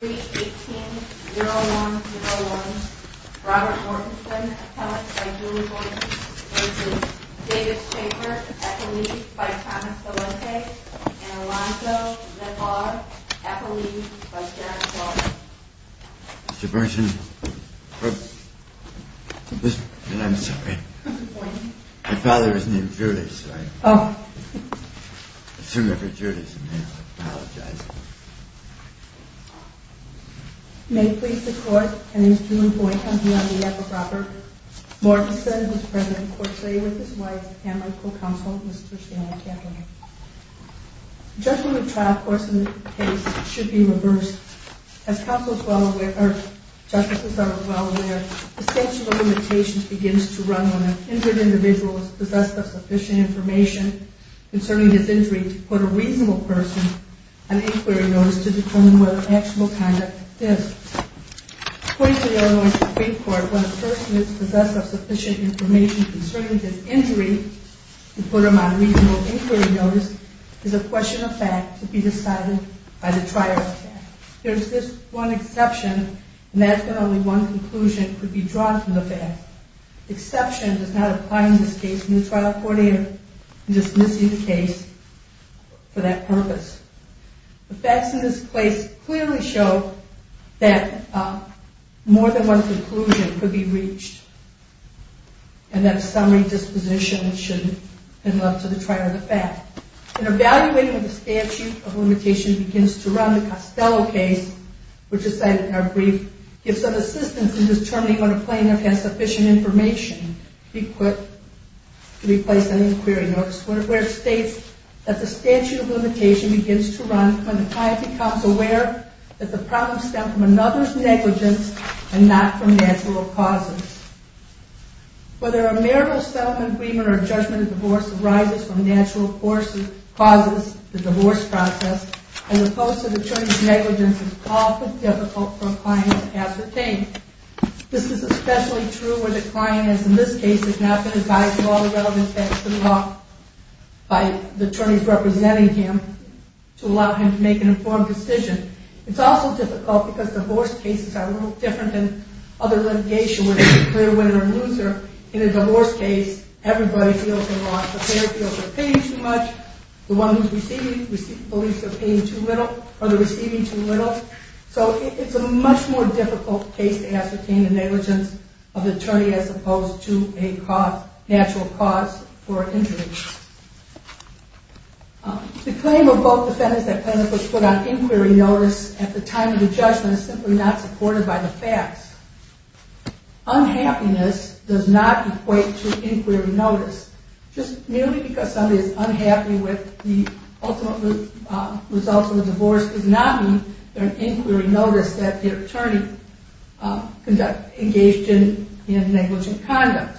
3.18.01.01 Robert Mortensen, Appellate by Julie Boynton David Chambers, Appellate by Thomas Delente and Alonzo Levar, Appellate by Jarek Zawada Mr. Burson, I'm sorry, my father's name is Judas, right? May it please the court, my name is Julie Boynton, I'm here on behalf of Robert Mortensen, who is present in court today with his wife and my co-counsel, Mr. Stanley Cantwell. Judging the trial course of the case should be reversed. As counsels are well aware, the statute of limitations begins to run when an injured individual is possessed of sufficient information concerning his injury to put a reasonable person on inquiry notice to determine whether actual conduct exists. According to the Illinois Supreme Court, when a person is possessed of sufficient information concerning his injury to put him on reasonable inquiry notice, it is a question of fact to be decided by the trial court. There is this one exception, and that's when only one conclusion could be drawn from the fact. The exception does not apply in this case in the trial court either, in dismissing the case for that purpose. The facts in this case clearly show that more than one conclusion could be reached, and that a summary disposition should be left to the trial of the fact. In evaluating when the statute of limitation begins to run, the Costello case, which is cited in our brief, gives some assistance in determining when a plaintiff has sufficient information to be put, to be placed on inquiry notice, where it states that the statute of limitation begins to run when the client becomes aware that the problems stem from another's negligence and not from natural causes. Whether a marital settlement agreement or a judgment of divorce arises from natural causes, the divorce process, as opposed to the attorney's negligence, is often difficult for a client to ascertain. This is especially true where the client has, in this case, not been advised of all the relevant facts of the law by the attorneys representing him to allow him to make an informed decision. It's also difficult because divorce cases are a little different than other litigation where there's a clear winner and loser. In a divorce case, everybody feels they're wrong. The payer feels they're paying too much. The one who's receiving believes they're receiving too little. So it's a much more difficult case to ascertain the negligence of the attorney as opposed to a natural cause for injury. The claim of both defendants that plaintiffs were put on inquiry notice at the time of the judgment is simply not supported by the facts. Unhappiness does not equate to inquiry notice. Just merely because somebody is unhappy with the ultimate results of the divorce does not mean they're on inquiry notice that the attorney engaged in negligent conduct.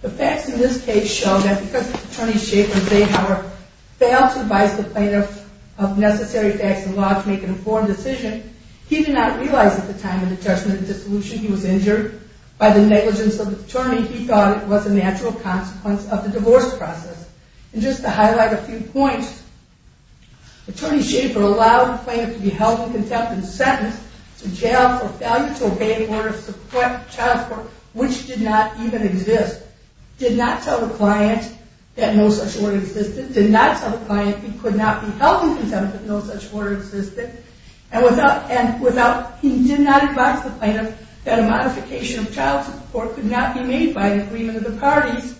The facts in this case show that because Attorney Schaefer and Zahauer failed to advise the plaintiff of necessary facts and laws to make an informed decision, he did not realize at the time of the judgment that he was injured by the negligence of the attorney. He thought it was a natural consequence of the divorce process. And just to highlight a few points, Attorney Schaefer allowed the plaintiff to be held in contempt and sentenced to jail for failure to obey an order of child support which did not even exist, did not tell the client that no such order existed, did not tell the client he could not be held in contempt if no such order existed, and without, he did not advise the plaintiff that a modification of child support could not be made by an agreement of the parties,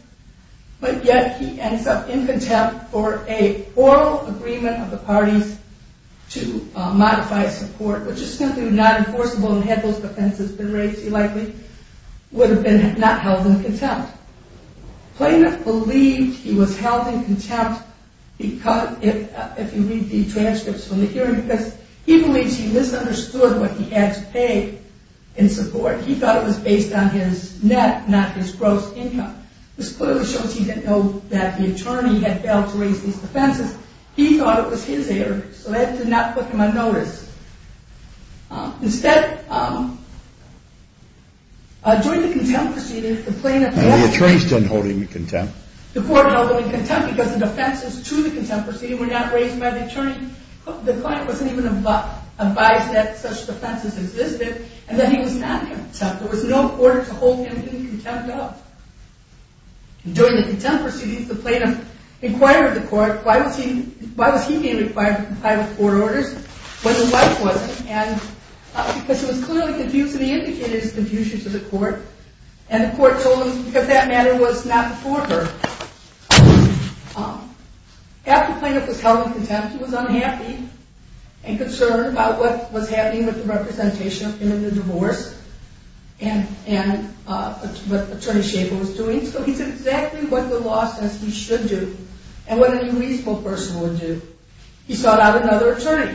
but yet he ends up in contempt for an oral agreement of the parties to modify support which is simply not enforceable and had those defenses been raised, he likely would have been not held in contempt. The plaintiff believed he was held in contempt if you read the transcripts from the hearing because he believes he misunderstood what he had to pay in support. He thought it was based on his net, not his gross income. This clearly shows he didn't know that the attorney had failed to raise these defenses. He thought it was his error, so that did not put him on notice. Instead, during the contempt proceedings, the plaintiff... The attorney is still holding him in contempt. The court held him in contempt because the defenses to the contempt proceeding were not raised by the attorney. The client wasn't even advised that such defenses existed and that he was not in contempt. There was no order to hold him in contempt at all. During the contempt proceedings, the plaintiff inquired the court, why was he being required to comply with court orders? Because he was clearly confused and he indicated his confusion to the court and the court told him because that matter was not before her. After the plaintiff was held in contempt, he was unhappy and concerned about what was happening with the representation of him in the divorce and what Attorney Schaefer was doing. So he did exactly what the law says he should do and what a reasonable person would do. He sought out another attorney.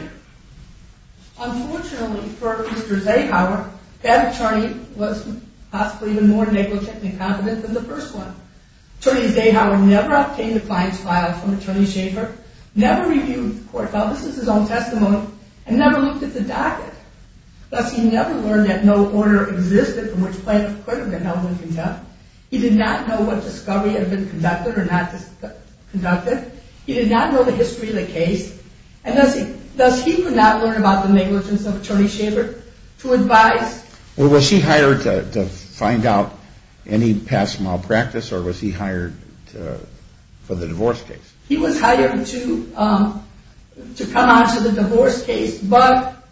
Unfortunately for Mr. Zahauer, that attorney was possibly even more negligent and incompetent than the first one. Attorney Zahauer never obtained the client's file from Attorney Schaefer, never reviewed the court file, this is his own testimony, and never looked at the docket. Thus, he never learned that no order existed from which plaintiff could have been held in contempt. He did not know what discovery had been conducted or not conducted. He did not know the history of the case and thus he could not learn about the negligence of Attorney Schaefer to advise. Was he hired to find out any past malpractice or was he hired for the divorce case? He was hired to come on to the divorce case but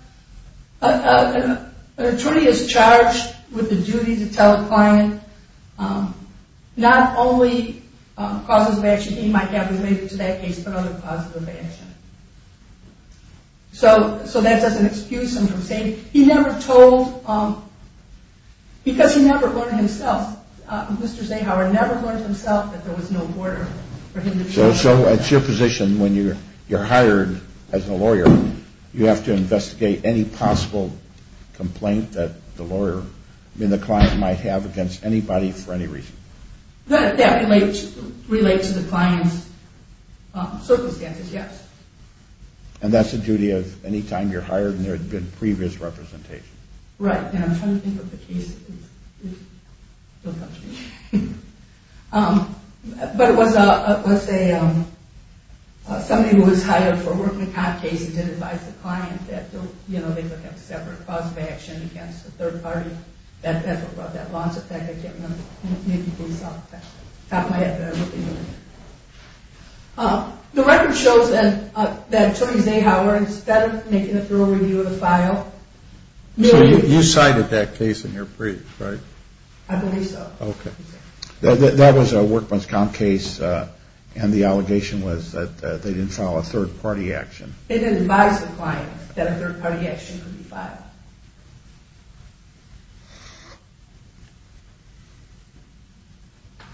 an attorney is charged with the duty to tell a client not only causes of action he might have related to that case but other causes of action. So that doesn't excuse him from saying he never told, because he never learned himself, Mr. Zahauer never learned himself that there was no order for him to be held in contempt. So it's your position when you're hired as a lawyer you have to investigate any possible complaint that the client might have against anybody for any reason? That relates to the client's circumstances, yes. And that's the duty of any time you're hired and there had been previous representation? Right, and I'm trying to think of the case. Don't come to me. But it was somebody who was hired for a workman's comp case and did advise the client that they would have separate cause of action against the third party. That's what brought that loss effect, I can't remember. Maybe it's off the top of my head but I don't think it was. The record shows that Attorney Zahauer, instead of making a thorough review of the file. So you cited that case in your brief, right? I believe so. Okay. That was a workman's comp case and the allegation was that they didn't file a third party action. They didn't advise the client that a third party action could be filed.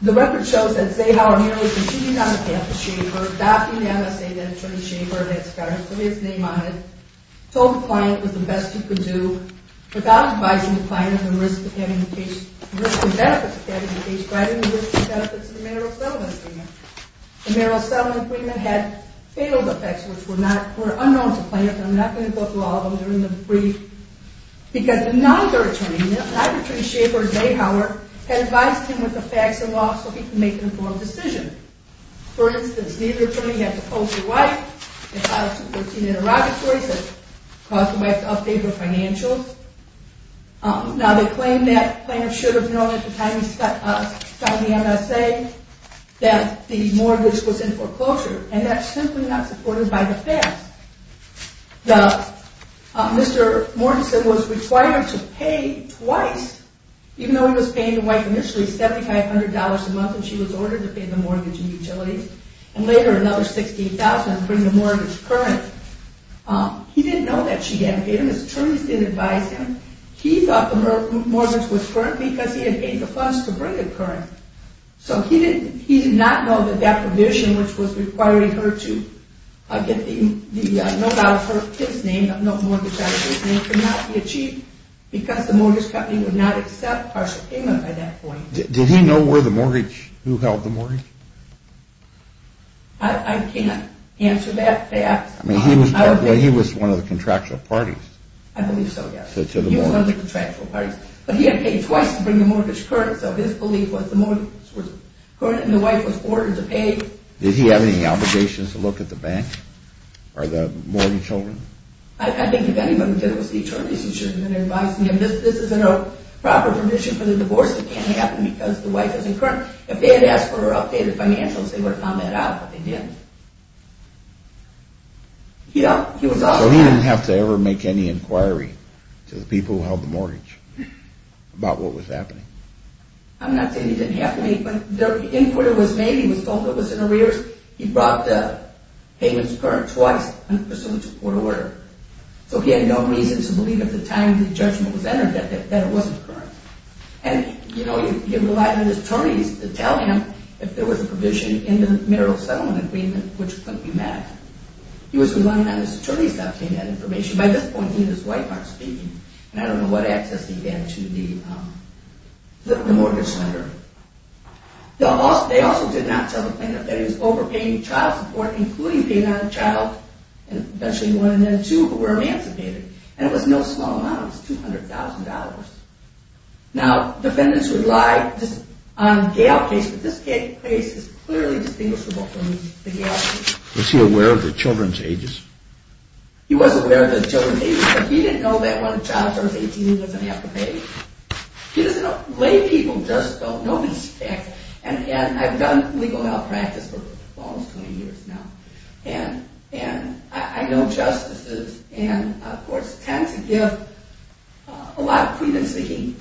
The record shows that Zahauer merely proceeded on behalf of Schaefer, adopting the MSA that Attorney Schaefer had put his name on it, told the client it was the best he could do without advising the client of the risks and benefits of having the case, providing the risks and benefits of the marital settlement agreement. The marital settlement agreement had fatal effects which were unknown to the client. I'm not going to go through all of them. They're in the brief. Because another attorney, another attorney, Schaefer, Zahauer, had advised him with the facts of the law so he could make an informed decision. For instance, neither attorney had proposed to the wife. They filed subpoenaed interrogatories that caused the wife to update her financials. Now they claim that the client should have known at the time he filed the MSA that the mortgage was in foreclosure. And that's simply not supported by the facts. Mr. Mortensen was required to pay twice, even though he was paying the wife initially $7,500 a month when she was ordered to pay the mortgage and utilities, and later another $16,000 to bring the mortgage current. He didn't know that she hadn't paid him. His attorneys didn't advise him. He thought the mortgage was current because he had paid the funds to bring it current. So he did not know that that provision, which was requiring her to get the note out of his name, the mortgage out of his name, could not be achieved because the mortgage company would not accept partial payment at that point. Did he know who held the mortgage? I can't answer that fact. He was one of the contractual parties. I believe so, yes. He was one of the contractual parties. But he had paid twice to bring the mortgage current, so his belief was the mortgage was current and the wife was ordered to pay. Did he have any obligations to look at the bank or the mortgage holder? I think if anyone did it was the attorneys who should have been advising him. This isn't a proper provision for the divorce. It can't happen because the wife isn't current. If they had asked for her updated financials, they would have found that out, but they didn't. So he didn't have to ever make any inquiry to the people who held the mortgage about what was happening? I'm not saying he didn't have to, but the inquiry was made. He was told it was in arrears. He brought the payments current twice in pursuit of court order. So he had no reason to believe at the time the judgment was entered that it wasn't current. And, you know, he relied on his attorneys to tell him if there was a provision in the marital settlement agreement which couldn't be met. He was relying on his attorneys to obtain that information. By this point, he and his wife aren't speaking. And I don't know what access he had to the mortgage lender. They also did not tell the plaintiff that he was overpaying child support, including paying on a child and eventually one and then two who were emancipated. And it was no small amount. It was $200,000. Now, defendants rely on gale case, but this case is clearly distinguishable from the gale case. Was he aware of the children's ages? He was aware of the children's ages, but he didn't know that when a child turns 18, he doesn't have to pay. He doesn't know. Lay people just don't know this fact. And I've done legal malpractice for almost 20 years now. And I know justices and, of course, tend to give a lot of credence to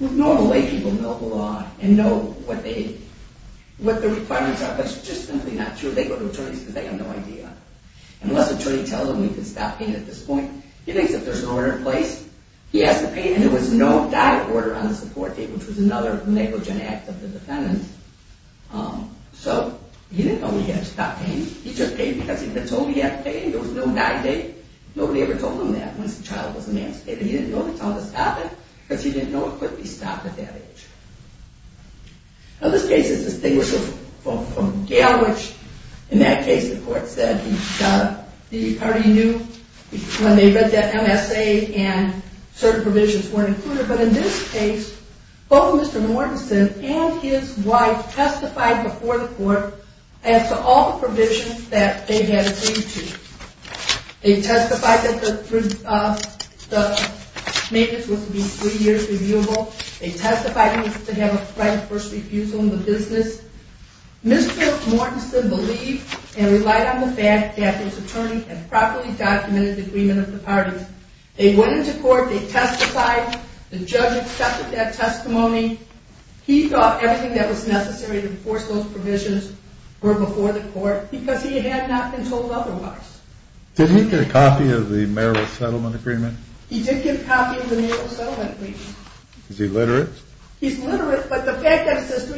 normal lay people who know the law and know what the requirements are. But it's just simply not true. They go to attorneys because they have no idea. Unless the attorney tells them we can stop paying at this point. He thinks if there's no order in place, he has to pay. And there was no diet order on the support date, which was another negligent act of the defendant. So, he didn't know he had to stop paying. He just paid because he had been told he had to pay. There was no diet date. Nobody ever told him that when his child was emancipated. He didn't know they told him to stop it because he didn't know it could be stopped at that age. Now, this case is distinguishable from gale, which, in that case, the court said the party knew when they read that MSA and certain provisions weren't included. But in this case, both Mr. Mortensen and his wife testified before the court as to all the provisions that they had agreed to. They testified that the maintenance was to be three years reviewable. They testified they needed to have a right of first refusal in the business. Mr. Mortensen believed and relied on the fact that his attorney had properly documented the agreement of the parties. They went into court. They testified. The judge accepted that testimony. He thought everything that was necessary to enforce those provisions were before the court because he had not been told otherwise. Did he get a copy of the marital settlement agreement? He did get a copy of the marital settlement agreement. Is he literate? He's literate, but the fact that it says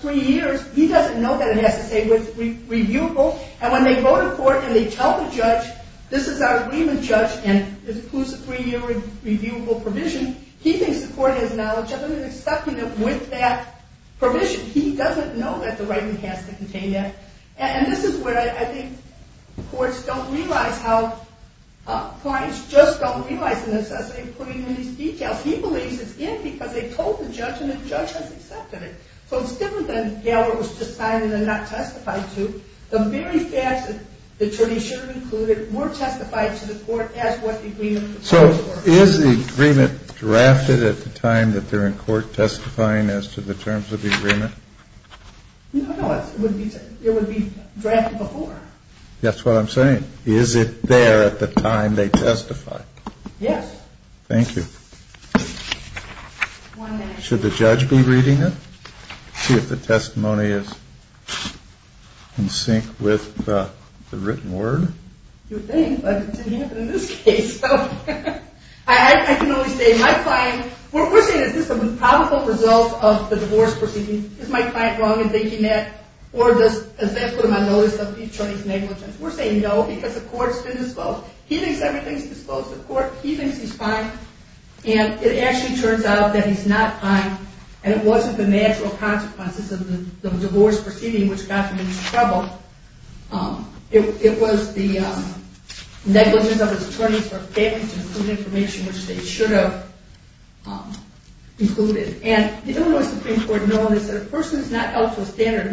three years, he doesn't know that it has to say reviewable. And when they go to court and they tell the judge, this is our agreement, judge, and this includes a three-year reviewable provision, he thinks the court has knowledge of it and is accepting it with that provision. He doesn't know that the writing has to contain that. And this is where I think courts don't realize how clients just don't realize the necessity of putting in these details. He believes it's in because they told the judge and the judge has accepted it. So it's different than Gail was deciding and not testifying to. The very facts that the attorney should have included were testified to the court as what the agreement proposes. So is the agreement drafted at the time that they're in court testifying as to the terms of the agreement? No, it would be drafted before. That's what I'm saying. Is it there at the time they testify? Yes. Thank you. One minute. Should the judge be reading it? See if the testimony is in sync with the written word. You would think, but it didn't happen in this case. I can only say my client, we're saying is this a probable result of the divorce proceedings? Is my client wrong in thinking that? Or does that put him on notice of the attorney's negligence? We're saying no because the court's been disclosed. He thinks everything's disclosed to the court. He thinks he's fine. And it actually turns out that he's not fine. And it wasn't the natural consequences of the divorce proceeding which got him in trouble. It was the negligence of his attorneys for failing to include information which they should have included. And the Illinois Supreme Court knows that a person is not held to a standard.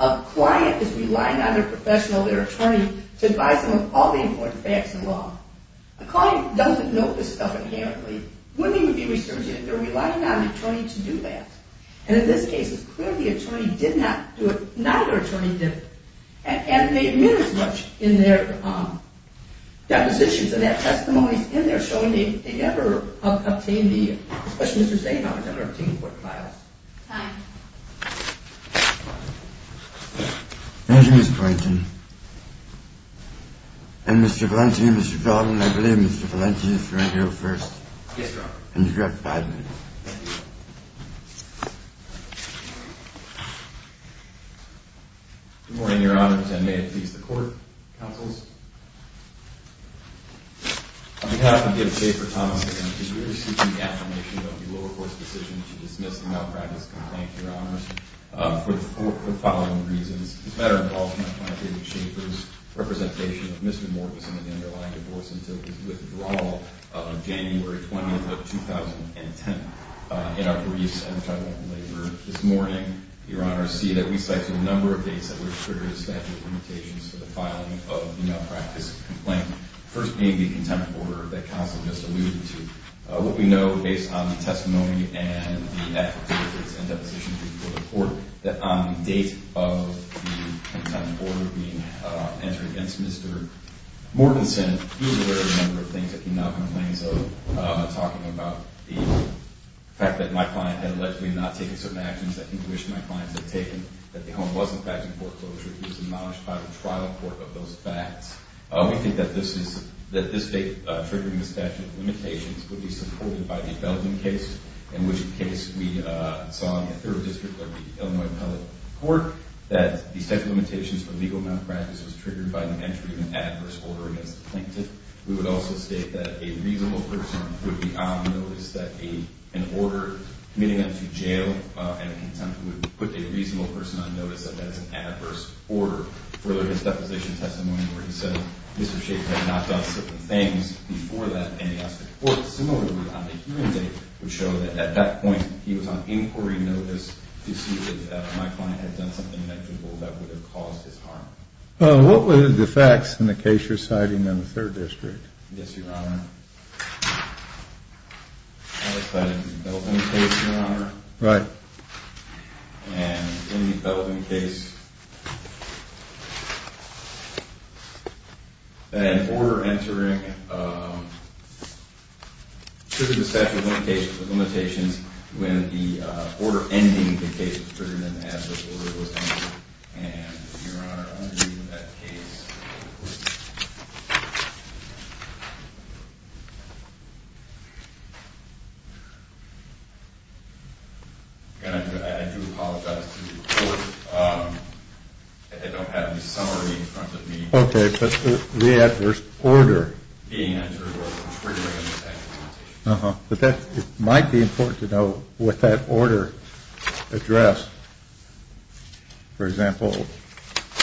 A client is relying on their professional, their attorney, to advise them of all the important facts in law. A client doesn't know this stuff inherently. Women would be resurgent if they're relying on an attorney to do that. And in this case, it's clear the attorney did not do it. Neither attorney did it. And they admit as much in their depositions. And that testimony's in there showing they never obtained the, especially Mr. Zaino, Time. Thank you, Ms. Quarantin. And Mr. Valenti, Mr. Feldman, I believe Mr. Valenti is here first. Yes, Your Honor. And you have five minutes. Thank you. Good morning, Your Honor. May it please the court, counsels. On behalf of David Shaffer, Thomas, again, we are seeking the affirmation of the lower court's decision to dismiss the malpractice complaint, Your Honor, for the following reasons. As a matter of policy, my client David Shaffer's representation of Mr. Mortensen and the underlying divorce until his withdrawal on January 20th of 2010. In our briefs, which I won't belabor this morning, Your Honor, see that we cite a number of dates that would have triggered a statute of limitations for the filing of the malpractice complaint. First being the contempt order that counsel just alluded to. What we know, based on the testimony and the efforts, efforts, and depositions before the court, that on the date of the contempt order being entered against Mr. Mortensen, he was aware of a number of things that he now complains of, talking about the fact that my client had allegedly not taken certain actions that he wished my clients had taken, that the home was, in fact, in foreclosure. He was acknowledged by the trial court of those facts. We think that this date triggering this statute of limitations would be supported by the Belden case, in which case we saw in the third district of the Illinois public court that the statute of limitations for legal malpractice was triggered by the entry of an adverse order against the plaintiff. We would also state that a reasonable person would be on notice that an order committing him to jail and contempt would put a reasonable person on notice that that's an adverse order. Further, his deposition testimony where he said Mr. Schaffer had knocked off certain things before that, and he asked the court similarly on the hearing date, would show that at that point he was on inquiry notice to see that my client had done something negligible that would have caused his harm. What were the defects in the case you're citing in the third district? Yes, Your Honor. I was cited in the Belden case, Your Honor. Right. And in the Belden case, an order entering the statute of limitations when the order ending the case was triggered in an adverse order was entered. And Your Honor, under that case, I do apologize to the court that they don't have the summary in front of me. Okay, but the adverse order. Being entered or triggering the statute of limitations. But it might be important to know what that order addressed. For example,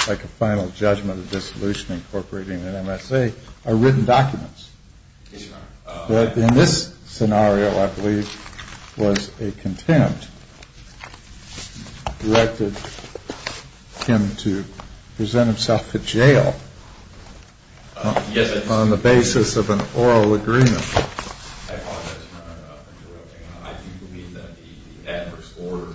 like a final judgment of dissolution incorporating an MSA are written documents. Yes, Your Honor. In this scenario, I believe, was a contempt directed him to present himself to jail on the basis of an oral agreement. I apologize, Your Honor, for interrupting. I do believe that the adverse order,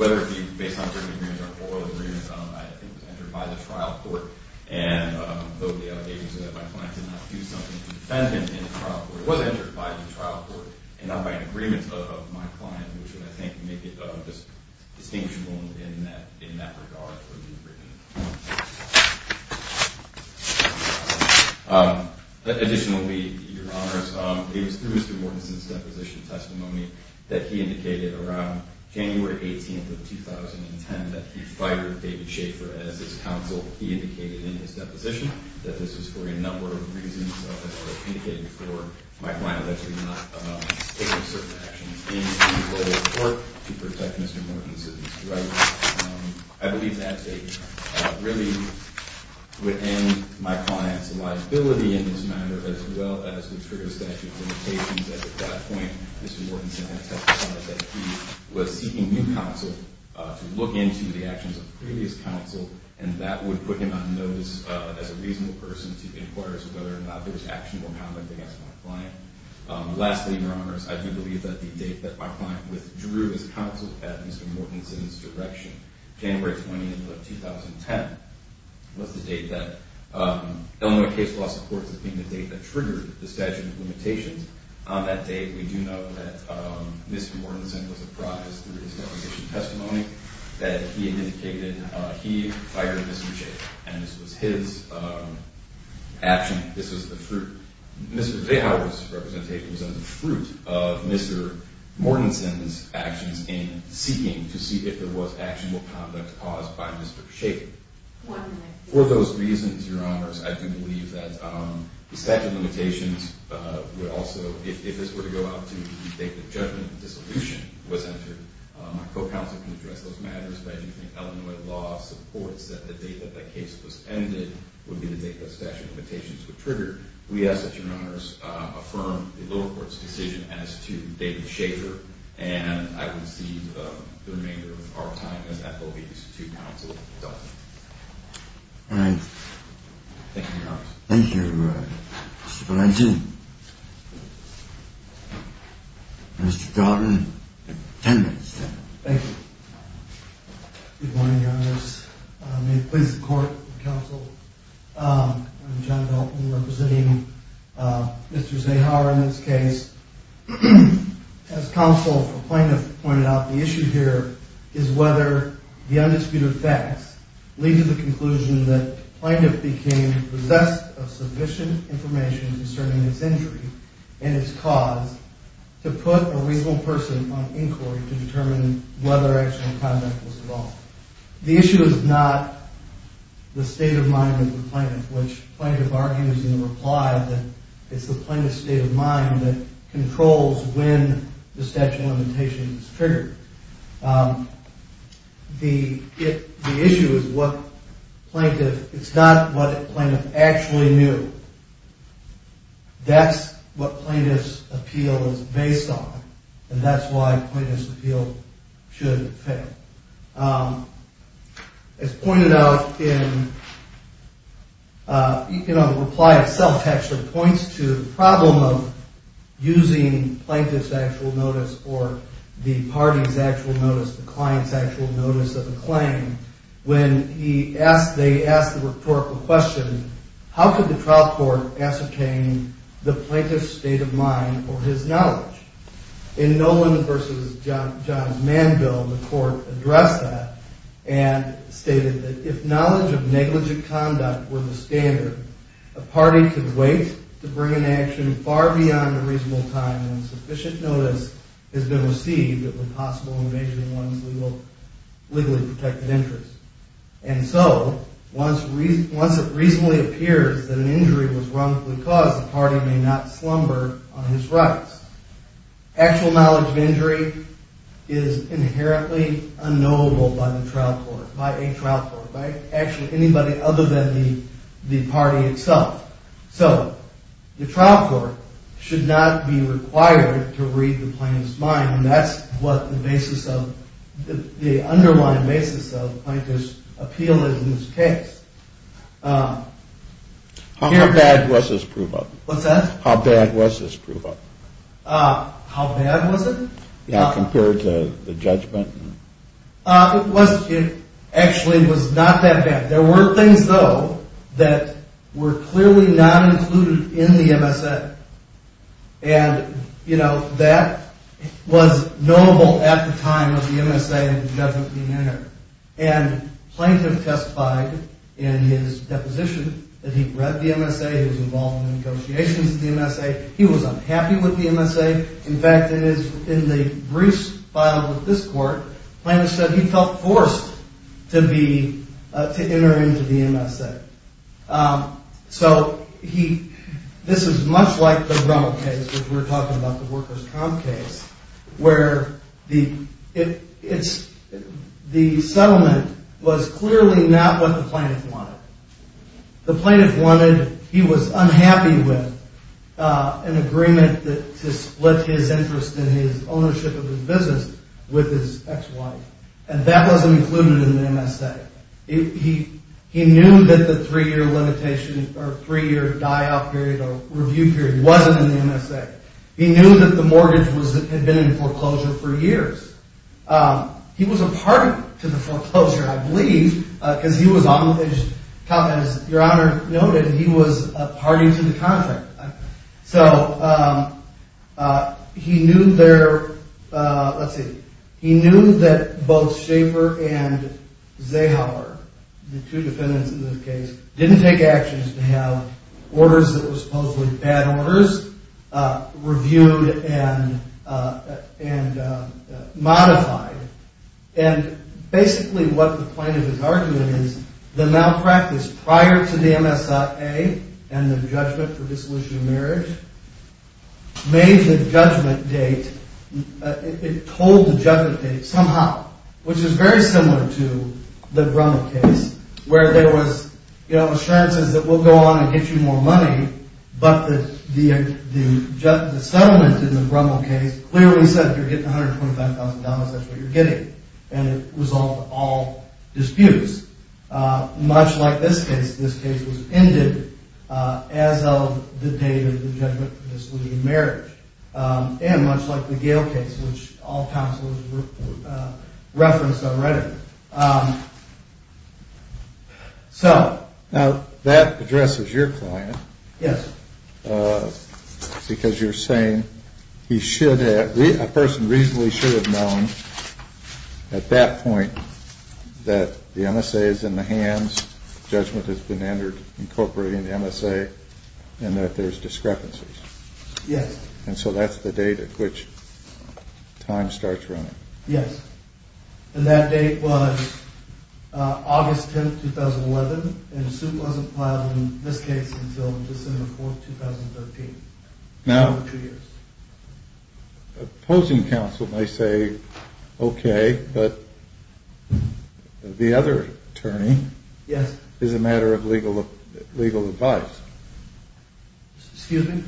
whether it be based on jury agreements or oral agreements, I think was entered by the trial court. And though the allegations are that my client did not do something to defend him in the trial court, it was entered by the trial court and not by an agreement of my client, which would, I think, make it distinguishable in that regard. Additionally, Your Honor, it was through Mr. Mortensen's deposition testimony that he indicated around January 18th of 2010 that he fired David Schaffer as his counsel. He indicated in his deposition that this was for a number of reasons. He indicated for my client allegedly not taking certain actions in the court to protect Mr. Mortensen's rights. I believe that really would end my client's liability in this matter as well as would trigger a statute of limitations. At that point, Mr. Mortensen had testified that he was seeking new counsel to look into the actions of previous counsel, and that would put him on notice as a reasonable person to inquire as to whether or not there was actionable comment against my client. Lastly, Your Honors, I do believe that the date that my client withdrew his counsel at Mr. Mortensen's direction, January 20th of 2010, was the date that Illinois case law supports as being the date that triggered the statute of limitations. On that date, we do know that Mr. Mortensen was apprised through his deposition testimony that he indicated he fired Mr. Schaffer, and this was his action. This was the fruit. Mr. Veja's representation was the fruit of Mr. Mortensen's actions in seeking to see if there was actionable conduct caused by Mr. Schaffer. For those reasons, Your Honors, I do believe that the statute of limitations would also, if this were to go out to the date that judgment and dissolution was entered, my co-counsel can address those matters, but I do think Illinois law supports that the date that the case was ended would be the date that statute of limitations were triggered. We ask that Your Honors affirm the lower court's decision as to David Schaffer, and I would cede the remainder of our time as FOB to counsel. All right. Thank you, Your Honors. Thank you, everybody. Mr. Valenti. Mr. Dalton. Ten minutes. Thank you. Good morning, Your Honors. May it please the court and counsel, I'm John Dalton representing Mr. Zahar in this case. As counsel for plaintiff pointed out, the issue here is whether the undisputed facts lead to the conclusion that and its cause to put a reasonable person on inquiry to determine whether actual conduct was involved. The issue is not the state of mind of the plaintiff, which plaintiff argues in the reply that it's the plaintiff's state of mind that controls when the statute of limitations is triggered. The issue is what plaintiff, it's not what plaintiff actually knew. That's what plaintiff's appeal is based on, and that's why plaintiff's appeal should fail. As pointed out in, you know, the reply itself actually points to the problem of using plaintiff's actual notice or the party's actual notice, the client's actual notice of a claim. When he asked, they asked the rhetorical question, how could the trial court ascertain the plaintiff's state of mind or his knowledge? In Nolan v. John Manville, the court addressed that and stated that if knowledge of negligent conduct were the standard, a party could wait to bring an action far beyond a reasonable time when sufficient notice has been received that would be possible in evasion of one's legally protected interest. And so, once it reasonably appears that an injury was wrongfully caused, the party may not slumber on his rights. Actual knowledge of injury is inherently unknowable by the trial court, by a trial court, by actually anybody other than the party itself. So the trial court should not be required to read the plaintiff's mind, and that's what the basis of, the underlying basis of plaintiff's appeal is in this case. How bad was this prove-up? What's that? How bad was this prove-up? How bad was it? Compared to the judgment? It actually was not that bad. There were things, though, that were clearly not included in the MSA. And, you know, that was notable at the time of the MSA and the judgment being entered. And the plaintiff testified in his deposition that he'd read the MSA, he was involved in negotiations with the MSA, he was unhappy with the MSA. In fact, in the briefs filed with this court, the plaintiff said he felt forced to be, to enter into the MSA. So this is much like the Rommel case, which we were talking about, the workers' comp case, where the settlement was clearly not what the plaintiff wanted. The plaintiff wanted, he was unhappy with an agreement to split his interest in his ownership of his business with his ex-wife. And that wasn't included in the MSA. He knew that the three-year limitation, or three-year die-out period or review period wasn't in the MSA. He knew that the mortgage had been in foreclosure for years. He was a party to the foreclosure, I believe, because he was on the top, as Your Honor noted, he was a party to the contract. So he knew there, let's see, he knew that both Schaefer and Zahauer, the two defendants in this case, didn't take actions to have orders that were supposedly bad orders reviewed and modified. And basically what the plaintiff is arguing is the malpractice prior to the MSA and the judgment for dissolution of marriage made the judgment date, it told the judgment date somehow, which is very similar to the Rommel case, where there was, you know, assurances that we'll go on and get you more money, but the settlement in the Rommel case clearly said if you're getting $125,000, that's what you're getting. And it resolved all disputes. Much like this case, this case was ended as of the date of the judgment for dissolution of marriage. And much like the Gale case, which all counsels referenced on Reddit. So... Now that addresses your client. Yes. Because you're saying he should have, a person reasonably should have known at that point that the MSA is in the hands, judgment has been entered incorporating the MSA, and that there's discrepancies. Yes. And so that's the date at which time starts running. Yes. And that date was August 10th, 2011, and the suit wasn't filed in this case until December 4th, 2013. Now, opposing counsel may say, okay, but the other attorney is a matter of legal advice. Excuse me?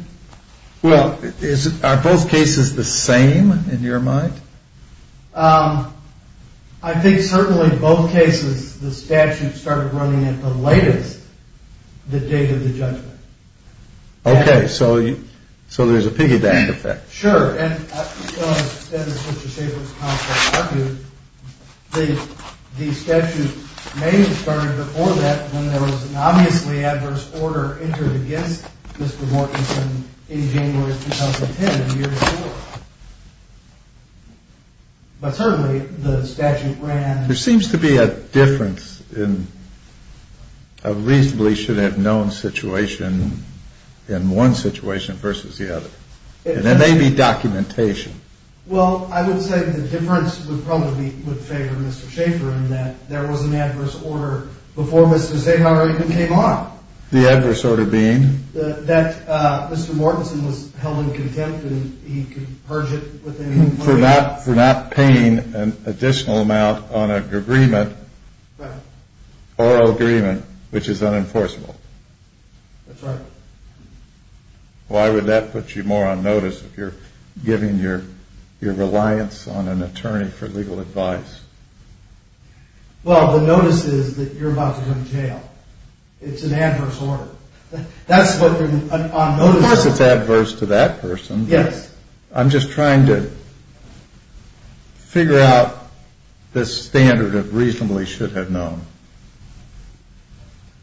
Well, are both cases the same in your mind? I think certainly both cases, the statute started running at the latest, the date of the judgment. Okay. So there's a piggyback effect. Sure. And I just want to extend Mr. Shaffer's counsel's argument. The statute may have started before that when there was an obviously adverse order entered against Mr. Mortensen in January 2010, a year before. But certainly the statute ran... There seems to be a difference in a reasonably should have known situation in one situation versus the other. There may be documentation. Well, I would say the difference would probably favor Mr. Shaffer in that there was an adverse order before Mr. Sahar even came on. The adverse order being? That Mr. Mortensen was held in contempt and he could purge it with any money. For not paying an additional amount on an agreement. Right. Or agreement, which is unenforceable. That's right. Why would that put you more on notice if you're giving your reliance on an attorney for legal advice? Well, the notice is that you're about to go to jail. It's an adverse order. That's what the notice... Of course it's adverse to that person. Yes. I'm just trying to figure out the standard of reasonably should have known.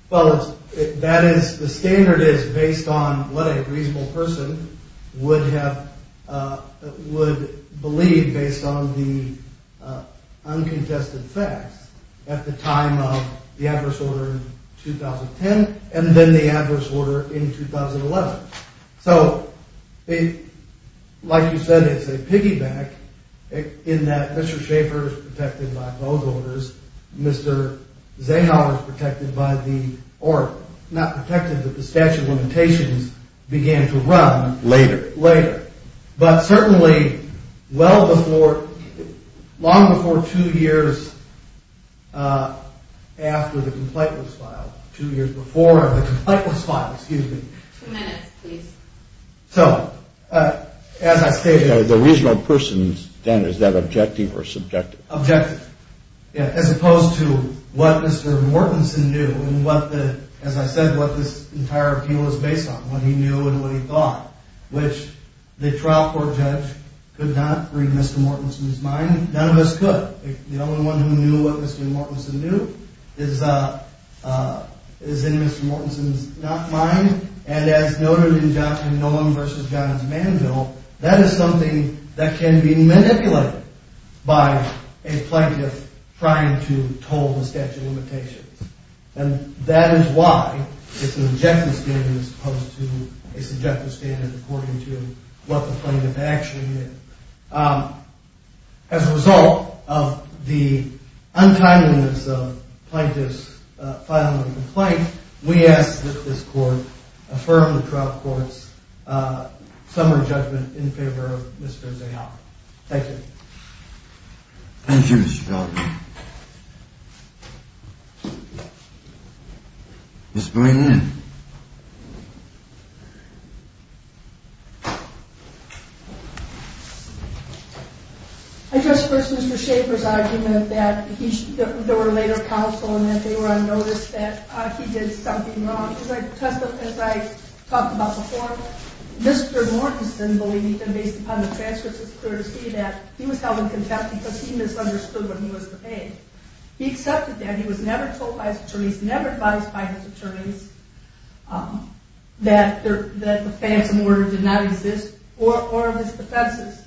Well, that is... The standard is based on what a reasonable person would have... Would believe based on the uncontested facts at the time of the adverse order in 2010 and then the adverse order in 2011. So, like you said, it's a piggyback in that Mr. Shaffer is protected by both orders. Mr. Sahar is protected by the... Or not protected, but the statute of limitations began to run... Later. Later. But certainly well before... Long before two years after the complaint was filed. Two years before the complaint was filed. Excuse me. Two minutes, please. So, as I stated... The reasonable person's standard, is that objective or subjective? Objective. As opposed to what Mr. Mortensen knew and what the... As I said, what this entire appeal is based on. What he knew and what he thought. Which the trial court judge could not read Mr. Mortensen's mind. None of us could. The only one who knew what Mr. Mortensen knew is in Mr. Mortensen's mind. And as noted in Johnson & Nolan v. Johns Manville, that is something that can be manipulated by a plaintiff trying to toll the statute of limitations. And that is why it's an objective standard as opposed to a subjective standard according to what the plaintiff actually did. As a result of the untimeliness of the plaintiff's filing of the complaint, we ask that this court affirm the trial court's summary judgment in favor of Mr. Zayhauer. Thank you. Thank you, Mr. Feldman. Mr. Boehner. I just heard Mr. Schaefer's argument that there were later counsel and that they were on notice that he did something wrong. As I talked about before, Mr. Mortensen believed that based upon the transcripts, it's clear to see that he was held in contempt because he misunderstood what he was debating. He accepted that. He was never told by his attorneys, never advised by his attorneys that the phantom order did not exist or of his defenses.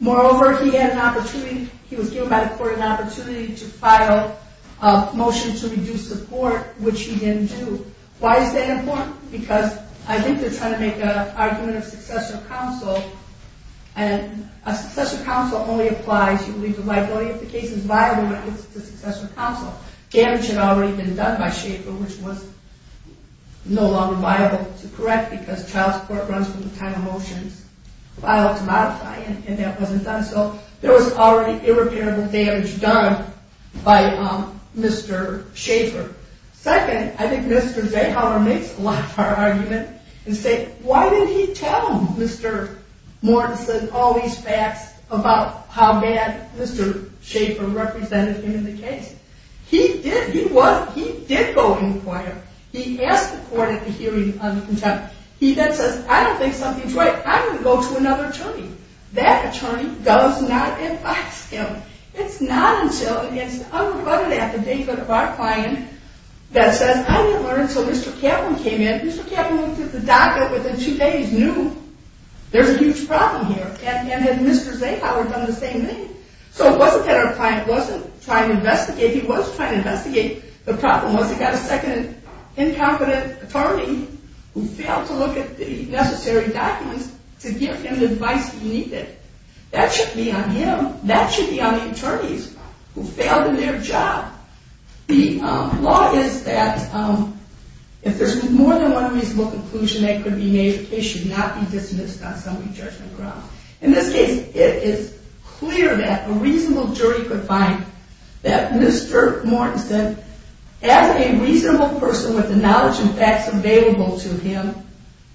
Moreover, he had an opportunity, he was given by the court an opportunity to file a motion to reduce the court, which he didn't do. Why is that important? Because I think they're trying to make an argument of succession of counsel, and a succession of counsel only applies if you believe the liability of the case is viable when it gets to succession of counsel. Damage had already been done by Schaefer, which was no longer viable to correct because child support runs from the time of motions filed to modify and that wasn't done. So there was already irreparable damage done by Mr. Schaefer. Second, I think Mr. Zayhauer makes a lot of our argument and say, why did he tell Mr. Mortensen all these facts about how bad Mr. Schaefer represented him in the case? He did go and inquire. He asked the court at the hearing on contempt. He then says, I don't think something's right. I'm going to go to another attorney. That attorney does not advise him. It's not until it's unrebutted at the banquet of our client that says, I didn't learn until Mr. Kaplan came in. Mr. Kaplan went through the docket within two days, knew there's a huge problem here, and had Mr. Zayhauer done the same thing? So it wasn't that our client wasn't trying to investigate. He was trying to investigate. The problem was he got a second incompetent attorney who failed to look at the necessary documents to give him the advice he needed. That should be on him. That should be on the attorneys who failed in their job. The law is that if there's more than one reasonable conclusion that could be made, the case should not be dismissed on summary judgment grounds. In this case, it is clear that a reasonable jury could find that Mr. Mortensen, as a reasonable person with the knowledge and facts available to him,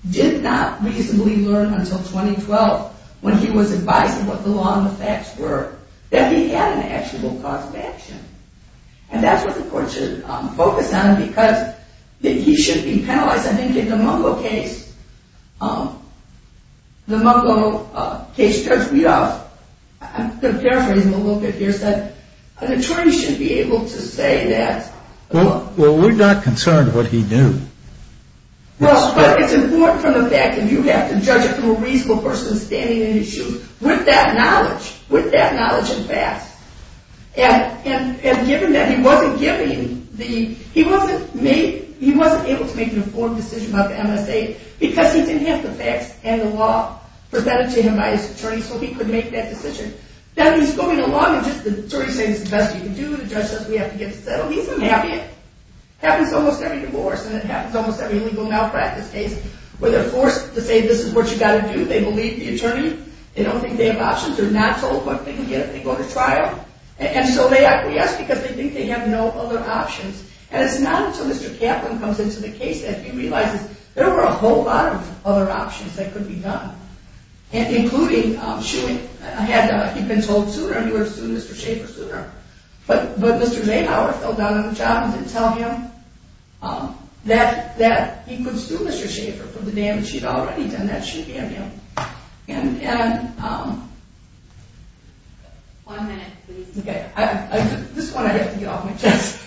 did not reasonably learn until 2012, when he was advised of what the law and the facts were, that he had an actual cause of action. And that's what the court should focus on, because he should be penalized. I think in the Mungo case, the Mungo case judge, I'm going to paraphrase him a little bit here, said an attorney should be able to say that. Well, we're not concerned what he knew. Well, but it's important from the fact that you have to judge it from a reasonable person standing in his shoes with that knowledge, with that knowledge and facts. And given that he wasn't giving the – he wasn't able to make an informed decision about the MSA because he didn't have the facts and the law presented to him by his attorney, so he couldn't make that decision. Then he's going along, and just the attorneys say, this is the best you can do. The judge says, we have to get this settled. He's unhappy. It happens almost every divorce, and it happens almost every legal malpractice case, where they're forced to say, this is what you've got to do. They believe the attorney. They don't think they have options. They're not told what they can get if they go to trial. And so they acquiesce because they think they have no other options. And it's not until Mr. Kaplan comes into the case that he realizes there were a whole lot of other options that could be done, including shooting. He'd been told sooner, and you were to sue Mr. Schaefer sooner. But Mr. Zahauer fell down on the job and didn't tell him that he could sue Mr. Schaefer for the damage he'd already done that she'd given him. One minute, please. Okay. This one I have to get off my chest.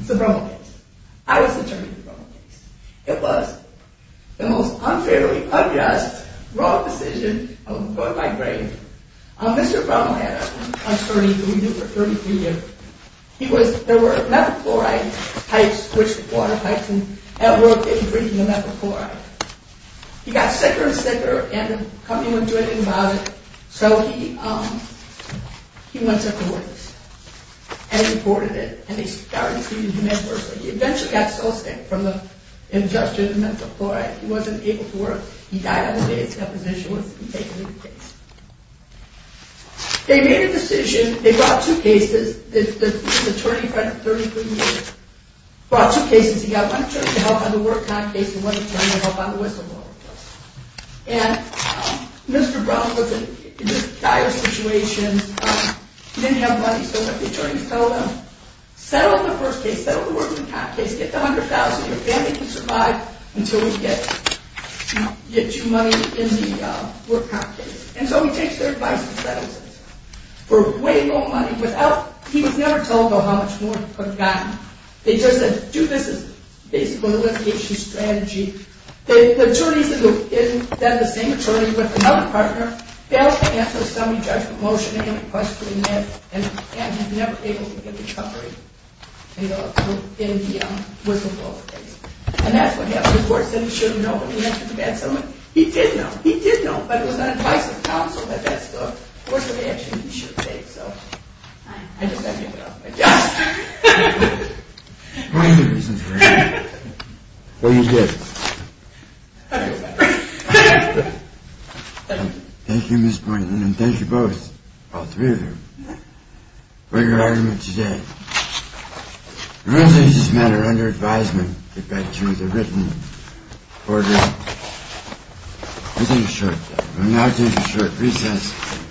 It's the Rommel case. I was attorney for the Rommel case. It was the most unfairly unjust, wrong decision of my grade. Mr. Rommel had a 33-year-old. There were methyl chloride types, which water types in that world didn't breathe the methyl chloride. He got sicker and sicker, and the company wouldn't do anything about it. So he went to a florist and imported it, and they started treating him worse. He eventually got so sick from the ingestion of methyl chloride, he wasn't able to work. He died on the day his deposition was to be taken into the case. They made a decision. They brought two cases. He was attorney for 33 years. Brought two cases. He got one attorney to help on the work comp case and one attorney to help on the whistleblower case. And Mr. Rommel was in just dire situations. He didn't have money, so the attorneys told him, Settle the first case. Settle the work comp case. Get the $100,000. Your family can survive until we get you money in the work comp case. And so he takes their advice and settles it for way more money. He was never told about how much more he could have gotten. They just said, do this as a basic litigation strategy. The attorneys that were in did the same attorney with another partner. They asked him a semi-judgmental motion. They had a question in there. And he was never able to get recovery in the whistleblower case. And that's what happened. The court said he should have known when he entered the bad settlement. He did know. He did know. But it was not advice of counsel that that stuck. That's what they actually should have said. So I just had to give it up. Yes! What are your reasons for that? What do you get? I don't know. Thank you, Ms. Pointland. And thank you both, all three of you, for your argument today. The rules of this matter are under advisement. Get back to the written order. We'll take a short break. We'll now take a short recess.